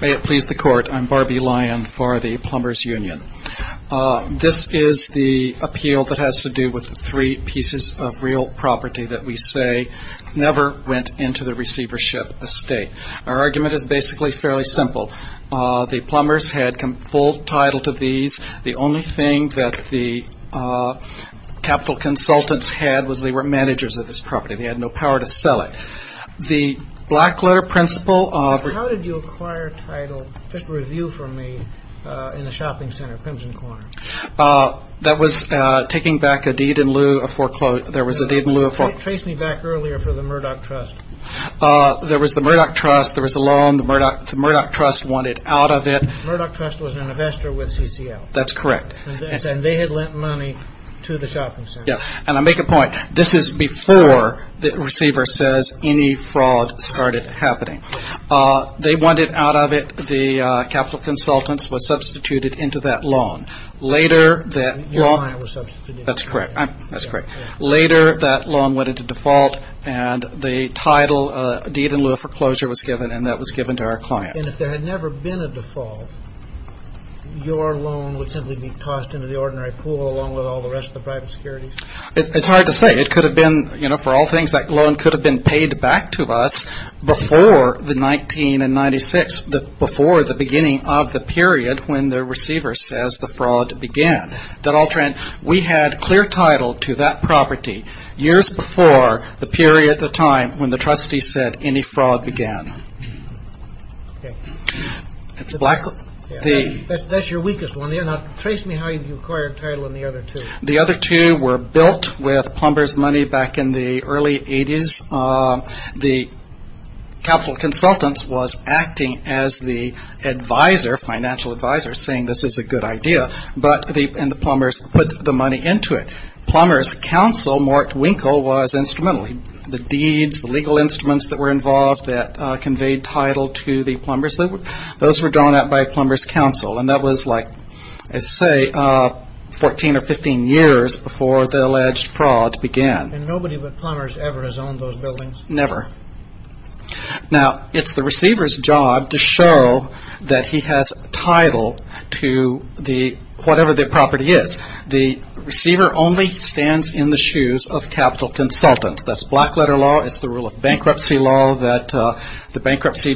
May it please the Court, I'm Barbie Lyon for the Plumbers Union. This is the appeal that has to do with the three pieces of real property that we say never went into the receivership estate. Our argument is basically fairly simple. The plumbers had full title to these. The only thing that the capital consultants had was they were managers of this property. They had no power to sell it. The black letter principle of the How did you acquire title, just review for me, in the shopping center, Crimson Corner? That was taking back a deed in lieu of foreclosure. There was a deed in lieu of foreclosure. Trace me back earlier for the Murdoch Trust. There was the Murdoch Trust. There was a loan. The Murdoch Trust wanted out of it. The Murdoch Trust was an investor with CCL. That's correct. And they had lent money to the shopping center. And I make a point, this is before the receiver says any fraud started happening. They wanted out of it. The capital consultants were substituted into that loan. Your client was substituted. That's correct. Later that loan went into default and the title deed in lieu of foreclosure was given and that was given to our client. And if there had never been a default, your loan would simply be tossed into the ordinary pool along with all the rest of the private securities? It's hard to say. It could have been, you know, for all things, that loan could have been paid back to us before the 1996, before the beginning of the period when the receiver says the fraud began. We had clear title to that property years before the period, the time when the trustee said any fraud began. Okay. That's your weakest one there. Now, trace me how you acquired title in the other two. The other two were built with Plumber's money back in the early 80s. The capital consultants was acting as the advisor, financial advisor, saying this is a good idea. And the Plumber's put the money into it. Plumber's counsel, Mark Winkle, was instrumental. The deeds, the legal instruments that were involved that conveyed title to the Plumber's, those were drawn out by Plumber's counsel, and that was, like I say, 14 or 15 years before the alleged fraud began. And nobody but Plumber's ever has owned those buildings? Never. Now, it's the receiver's job to show that he has title to whatever the property is. The receiver only stands in the shoes of capital consultants. That's black letter law. It's the rule of bankruptcy law that the bankruptcy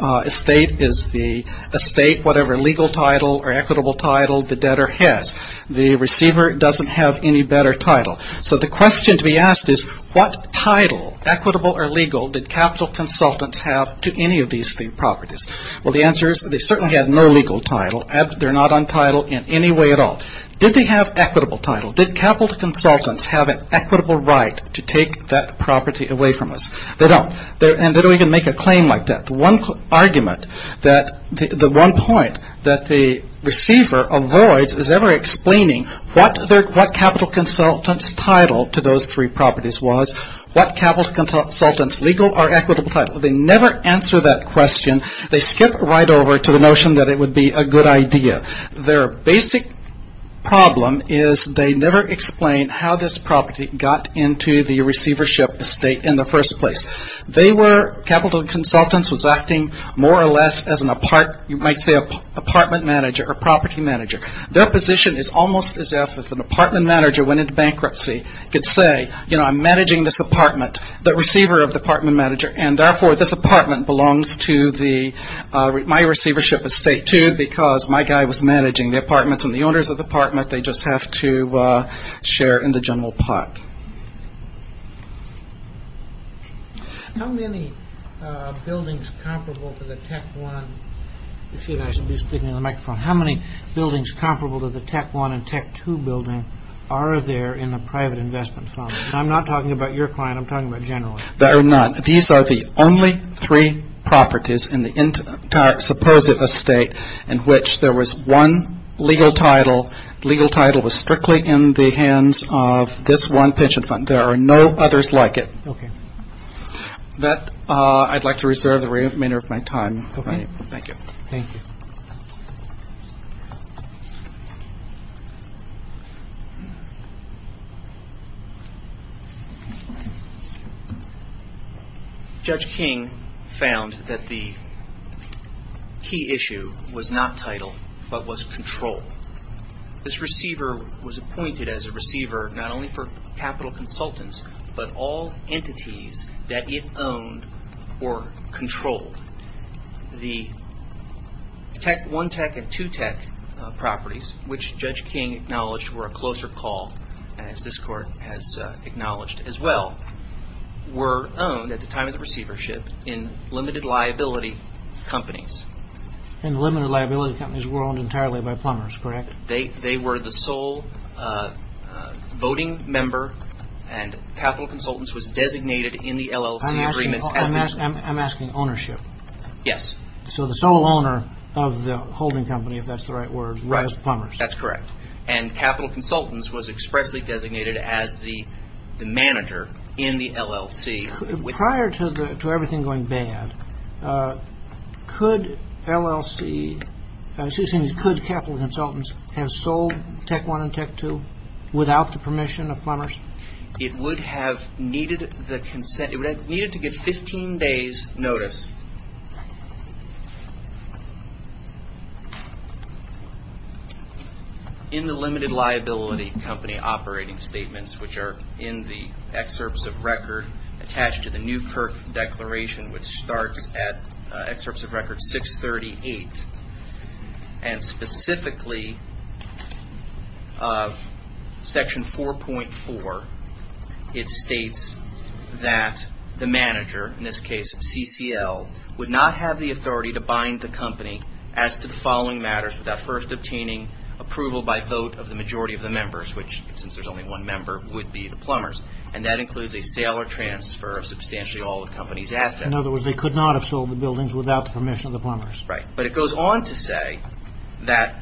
estate is the estate, whatever legal title or equitable title the debtor has. The receiver doesn't have any better title. So the question to be asked is what title, equitable or legal, did capital consultants have to any of these three properties? Well, the answer is they certainly had no legal title. They're not on title in any way at all. But did they have equitable title? Did capital consultants have an equitable right to take that property away from us? They don't. And they don't even make a claim like that. The one point that the receiver avoids is ever explaining what capital consultant's title to those three properties was, what capital consultant's legal or equitable title. They never answer that question. They skip right over to the notion that it would be a good idea. Their basic problem is they never explain how this property got into the receivership estate in the first place. They were capital consultants was acting more or less as an apartment manager or property manager. Their position is almost as if an apartment manager went into bankruptcy, could say, you know, I'm managing this apartment, the receiver of the apartment manager, and therefore this apartment belongs to my receivership estate, too, because my guy was managing the apartments and the owners of the apartment. They just have to share in the general pot. How many buildings comparable to the TEC-1? Excuse me, I should be speaking into the microphone. How many buildings comparable to the TEC-1 and TEC-2 building are there in the private investment fund? I'm not talking about your client. I'm talking about general. There are none. These are the only three properties in the entire supposed estate in which there was one legal title. Legal title was strictly in the hands of this one pension fund. There are no others like it. Okay. That, I'd like to reserve the remainder of my time. Okay. Thank you. Thank you. Judge King found that the key issue was not title, but was control. This receiver was appointed as a receiver not only for capital consultants, but all entities that it owned or controlled. The TEC-1 TEC and TEC-2 properties, which Judge King acknowledged were a closer call, as this court has acknowledged as well, were owned at the time of the receivership in limited liability companies. And limited liability companies were owned entirely by plumbers, correct? They were the sole voting member and capital consultants was designated in the LLC agreements. I'm asking ownership. Yes. So the sole owner of the holding company, if that's the right word, was plumbers. That's correct. And capital consultants was expressly designated as the manager in the LLC. Prior to everything going bad, could LLC, excuse me, could capital consultants have sold TEC-1 and TEC-2 without the permission of plumbers? It would have needed the consent. It would have needed to get 15 days notice in the limited liability company operating statements, which are in the excerpts of record attached to the Newkirk Declaration, which starts at excerpts of record 638, and specifically section 4.4, it states that the manager, in this case CCL, would not have the authority to bind the company as to the following matters without first obtaining approval by vote of the majority of the members, which, since there's only one member, would be the plumbers. And that includes a sale or transfer of substantially all of the company's assets. In other words, they could not have sold the buildings without the permission of the plumbers. Right. But it goes on to say that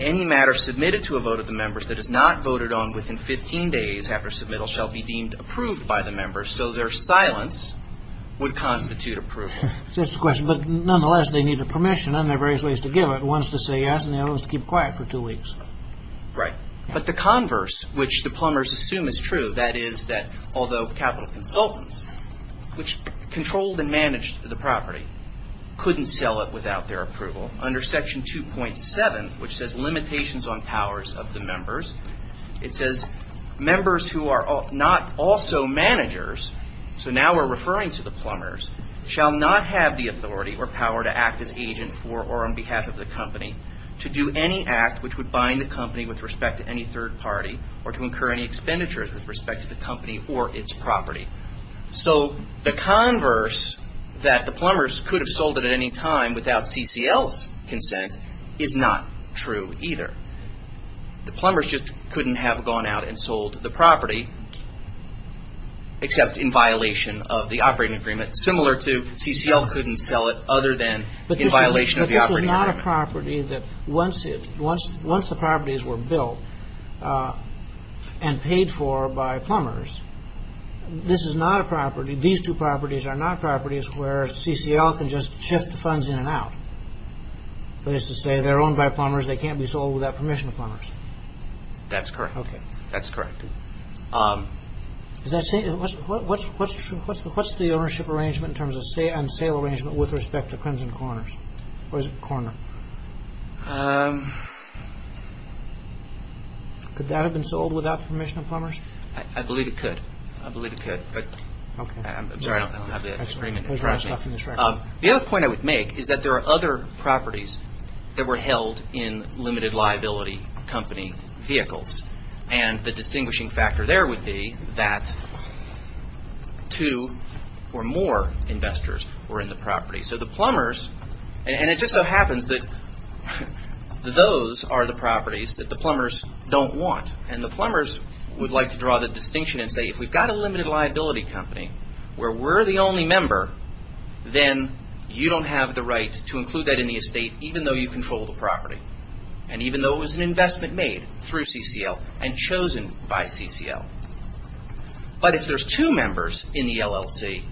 any matter submitted to a vote of the members that is not voted on within 15 days after submittal shall be deemed approved by the members, so their silence would constitute approval. That's the question. But nonetheless, they need the permission under various ways to give it. One is to say yes, and the other is to keep quiet for two weeks. Right. But the converse, which the plumbers assume is true, that is that although capital consultants, which controlled and managed the property, couldn't sell it without their approval, under section 2.7, which says limitations on powers of the members, it says members who are not also managers, so now we're referring to the plumbers, shall not have the authority or power to act as agent for or on behalf of the company to do any act which would bind the company with respect to any third party or to incur any expenditures with respect to the company or its property. So the converse that the plumbers could have sold it at any time without CCL's consent is not true either. The plumbers just couldn't have gone out and sold the property except in violation of the operating agreement, similar to CCL couldn't sell it other than in violation of the operating agreement. This is not a property that once the properties were built and paid for by plumbers, this is not a property, these two properties are not properties where CCL can just shift the funds in and out. That is to say they're owned by plumbers, they can't be sold without permission of plumbers. That's correct. Okay. That's correct. What's the ownership arrangement in terms of sale arrangement with respect to Crimson Corners? Or is it Corner? Could that have been sold without permission of plumbers? I believe it could. I believe it could. Okay. I'm sorry, I don't have the agreement. The other point I would make is that there are other properties that were held in limited liability company vehicles and the distinguishing factor there would be that two or more investors were in the property. So the plumbers, and it just so happens that those are the properties that the plumbers don't want. And the plumbers would like to draw the distinction and say if we've got a limited liability company where we're the only member, then you don't have the right to include that in the estate even though you control the property. And even though it was an investment made through CCL and chosen by CCL. But if there's two members in the LLC,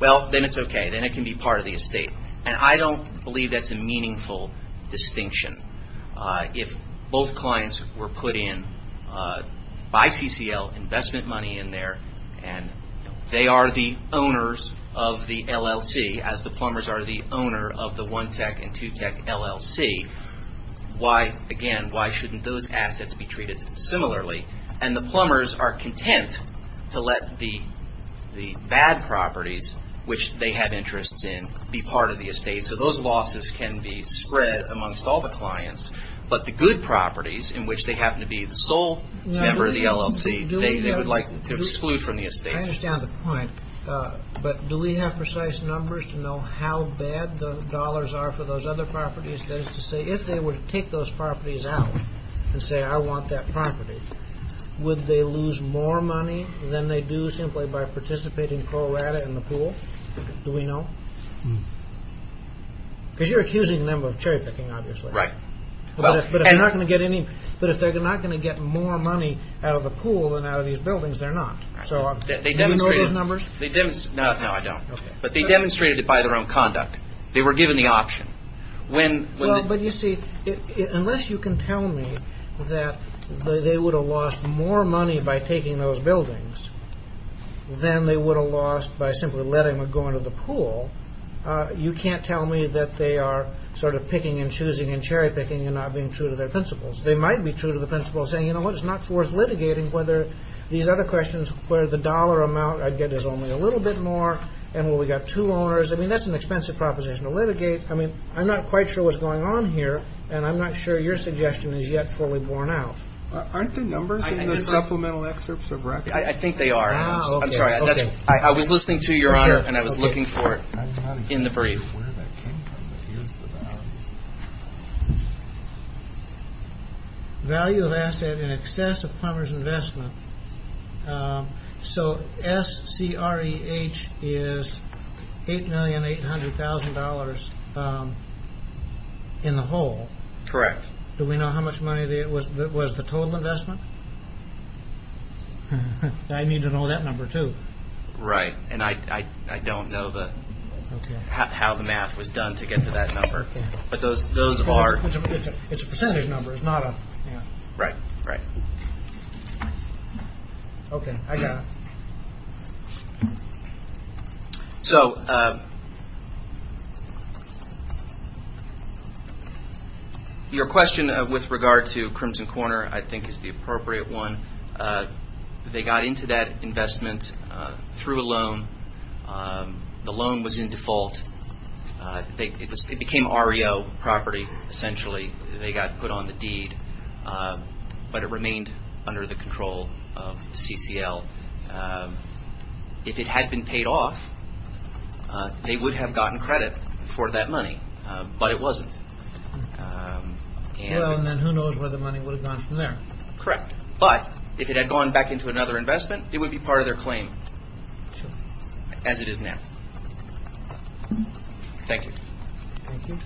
well, then it's okay. Then it can be part of the estate. And I don't believe that's a meaningful distinction. If both clients were put in by CCL, investment money in there, and they are the owners of the LLC as the plumbers are the owner of the One Tech and Two Tech LLC, why, again, why shouldn't those assets be treated similarly? And the plumbers are content to let the bad properties, which they have interests in, be part of the estate. So those losses can be spread amongst all the clients. But the good properties in which they happen to be the sole member of the LLC, they would like to exclude from the estate. I understand the point. But do we have precise numbers to know how bad the dollars are for those other properties? That is to say, if they were to take those properties out and say, I want that property, would they lose more money than they do simply by participating pro rata in the pool? Do we know? Because you're accusing them of cherry picking, obviously. Right. But if they're not going to get more money out of the pool than out of these buildings, they're not. Do you know those numbers? No, I don't. But they demonstrated it by their own conduct. They were given the option. But you see, unless you can tell me that they would have lost more money by taking those buildings you can't tell me that they are sort of picking and choosing and cherry picking and not being true to their principles. They might be true to the principles, saying, you know what, it's not worth litigating whether these other questions where the dollar amount I'd get is only a little bit more and where we've got two owners. I mean, that's an expensive proposition to litigate. I mean, I'm not quite sure what's going on here, and I'm not sure your suggestion is yet fully borne out. Aren't the numbers in the supplemental excerpts of record? I think they are. I'm sorry. I was listening to you, Your Honor, and I was looking for it in the brief. Value of asset in excess of plumber's investment. So S-C-R-E-H is $8,800,000 in the whole. Correct. Do we know how much money was the total investment? I need to know that number, too. Right. And I don't know how the math was done to get to that number. But those are. It's a percentage number. It's not a. Right. Right. Okay. I got it. So your question with regard to Crimson Corner I think is the appropriate one. They got into that investment through a loan. The loan was in default. It became REO property, essentially. They got put on the deed, but it remained under the control of CCL. If it had been paid off, they would have gotten credit for that money, but it wasn't. Well, then who knows where the money would have gone from there. Correct. But if it had gone back into another investment, it would be part of their claim as it is now. Thank you. Thank you. Thank you.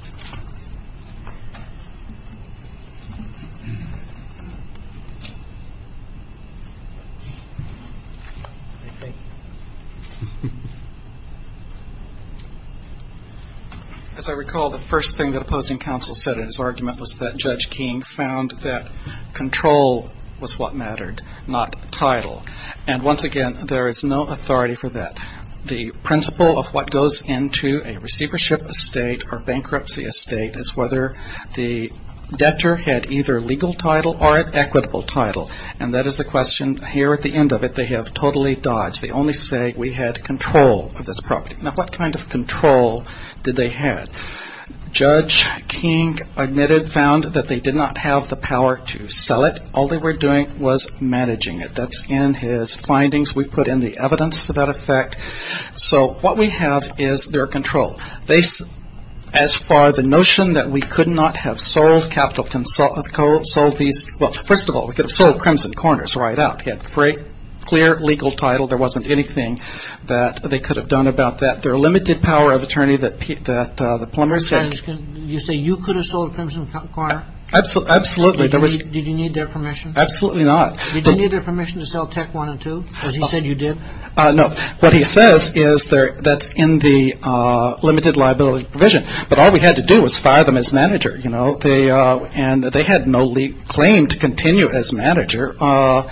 As I recall, the first thing that opposing counsel said in his argument was that Judge King found that control was what mattered, not title. And once again, there is no authority for that. The principle of what goes into a receivership estate or bankruptcy estate is whether the debtor had either legal title or an equitable title. And that is the question here at the end of it. They have totally dodged. They only say we had control of this property. Now, what kind of control did they have? Judge King admitted found that they did not have the power to sell it. All they were doing was managing it. That's in his findings. We put in the evidence to that effect. So what we have is their control. As far as the notion that we could not have sold capital consult, sold these, well, first of all, we could have sold Crimson Corners right out. We had a clear legal title. There wasn't anything that they could have done about that. Their limited power of attorney that the plumber said. You say you could have sold Crimson Corner? Absolutely. Did you need their permission? Absolutely not. Did you need their permission to sell Tech 1 and 2, as he said you did? No. What he says is that's in the limited liability provision. And they had no claim to continue as manager. I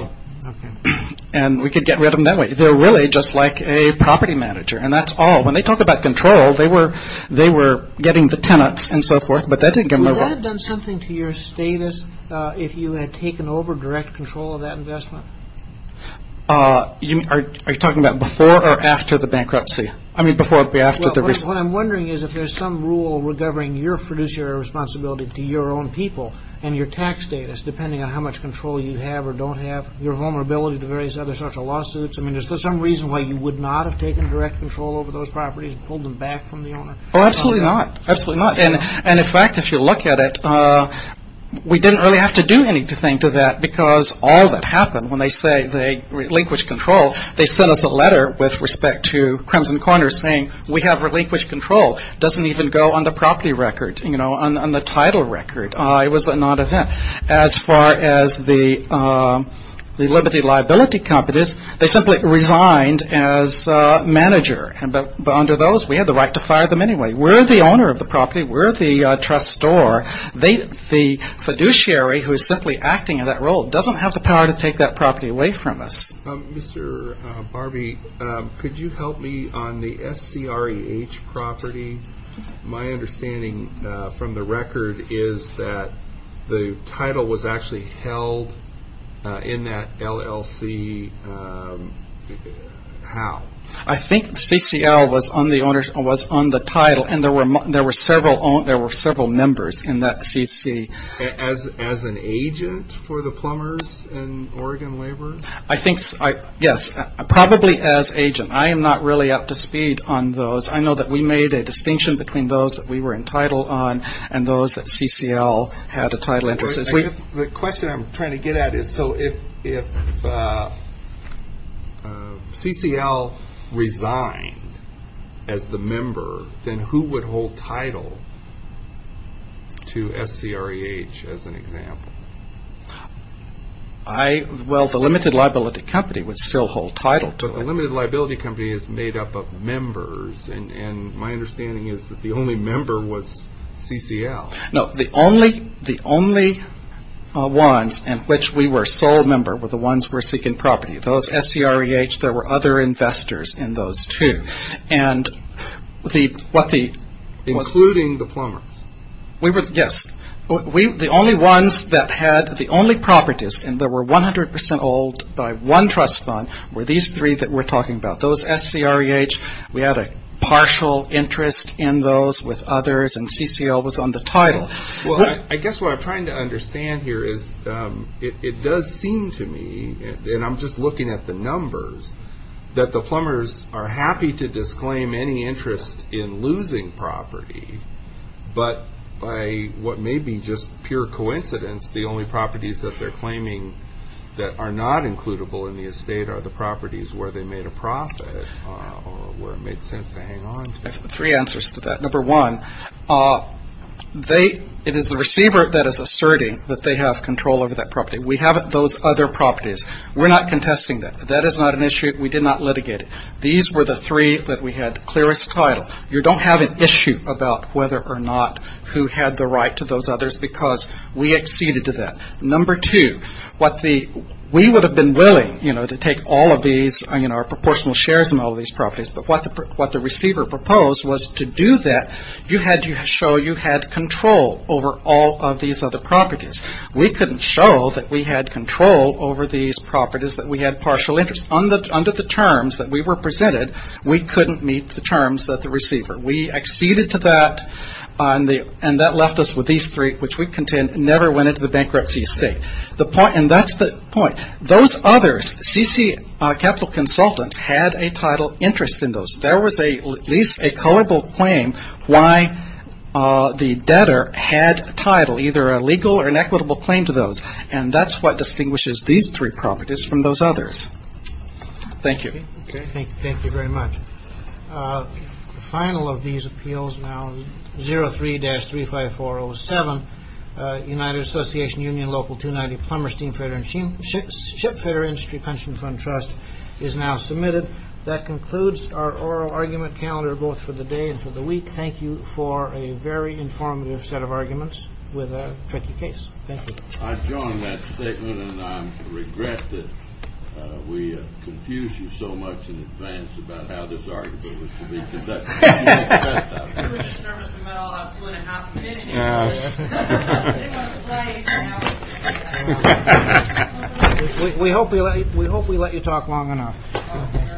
see. Okay. And we could get rid of them that way. They're really just like a property manager. And that's all. When they talk about control, they were getting the tenants and so forth, but that didn't get moved on. Would that have done something to your status if you had taken over direct control of that investment? Are you talking about before or after the bankruptcy? I mean, before or after the recent. What I'm wondering is if there's some rule recovering your fiduciary responsibility to your own people and your tax status, depending on how much control you have or don't have, your vulnerability to various other sorts of lawsuits. I mean, is there some reason why you would not have taken direct control over those properties and pulled them back from the owner? Oh, absolutely not. Absolutely not. And in fact, if you look at it, we didn't really have to do anything to that because all that happened. When they say they relinquished control, they sent us a letter with respect to Crimson Corner saying we have relinquished control. It doesn't even go on the property record, on the title record. It was a non-event. As far as the Liberty Liability Company is, they simply resigned as manager. But under those, we had the right to fire them anyway. We're the owner of the property. We're the trust store. The fiduciary who is simply acting in that role doesn't have the power to take that property away from us. Mr. Barbee, could you help me on the SCREH property? My understanding from the record is that the title was actually held in that LLC. How? I think CCL was on the title, and there were several members in that CC. As an agent for the plumbers and Oregon laborers? Yes, probably as agent. I am not really up to speed on those. I know that we made a distinction between those that we were entitled on and those that CCL had a title interest. The question I'm trying to get at is so if CCL resigned as the member, then who would hold title to SCREH as an example? Well, the Limited Liability Company would still hold title to it. The Limited Liability Company is made up of members, and my understanding is that the only member was CCL. No, the only ones in which we were sole member were the ones who were seeking property. Those SCREH, there were other investors in those two. Including the plumbers? Yes. The only ones that had the only properties, and they were 100% old by one trust fund, were these three that we're talking about. Those SCREH, we had a partial interest in those with others, and CCL was on the title. Well, I guess what I'm trying to understand here is it does seem to me, and I'm just looking at the numbers, that the plumbers are happy to disclaim any interest in losing property, but by what may be just pure coincidence, the only properties that they're claiming that are not includable in the estate are the properties where they made a profit, or where it made sense to hang on to. I have three answers to that. Number one, it is the receiver that is asserting that they have control over that property. We have those other properties. We're not contesting that. That is not an issue. We did not litigate it. These were the three that we had clearest title. You don't have an issue about whether or not who had the right to those others, because we acceded to that. Number two, what the we would have been willing, you know, to take all of these, you know, our proportional shares in all of these properties, but what the receiver proposed was to do that, you had to show you had control over all of these other properties. We couldn't show that we had control over these properties, that we had partial interest. Under the terms that we were presented, we couldn't meet the terms that the receiver. We acceded to that, and that left us with these three, which we contend never went into the bankruptcy estate. And that's the point. Those others, CC Capital Consultants, had a title interest in those. There was at least a culpable claim why the debtor had a title, either a legal or an equitable claim to those. And that's what distinguishes these three properties from those others. Thank you. Thank you very much. The final of these appeals, now 03-35407, United Association Union Local 290 Plumberstein Federer and Ship Federer Industry Pension Fund Trust is now submitted. That concludes our oral argument calendar, both for the day and for the week. Thank you for a very informative set of arguments with a tricky case. Thank you. I join that statement, and I regret that we confused you so much in advance about how this argument was to be conducted. We just nervous the metal out two and a half minutes. We hope we let you talk long enough. Thank you.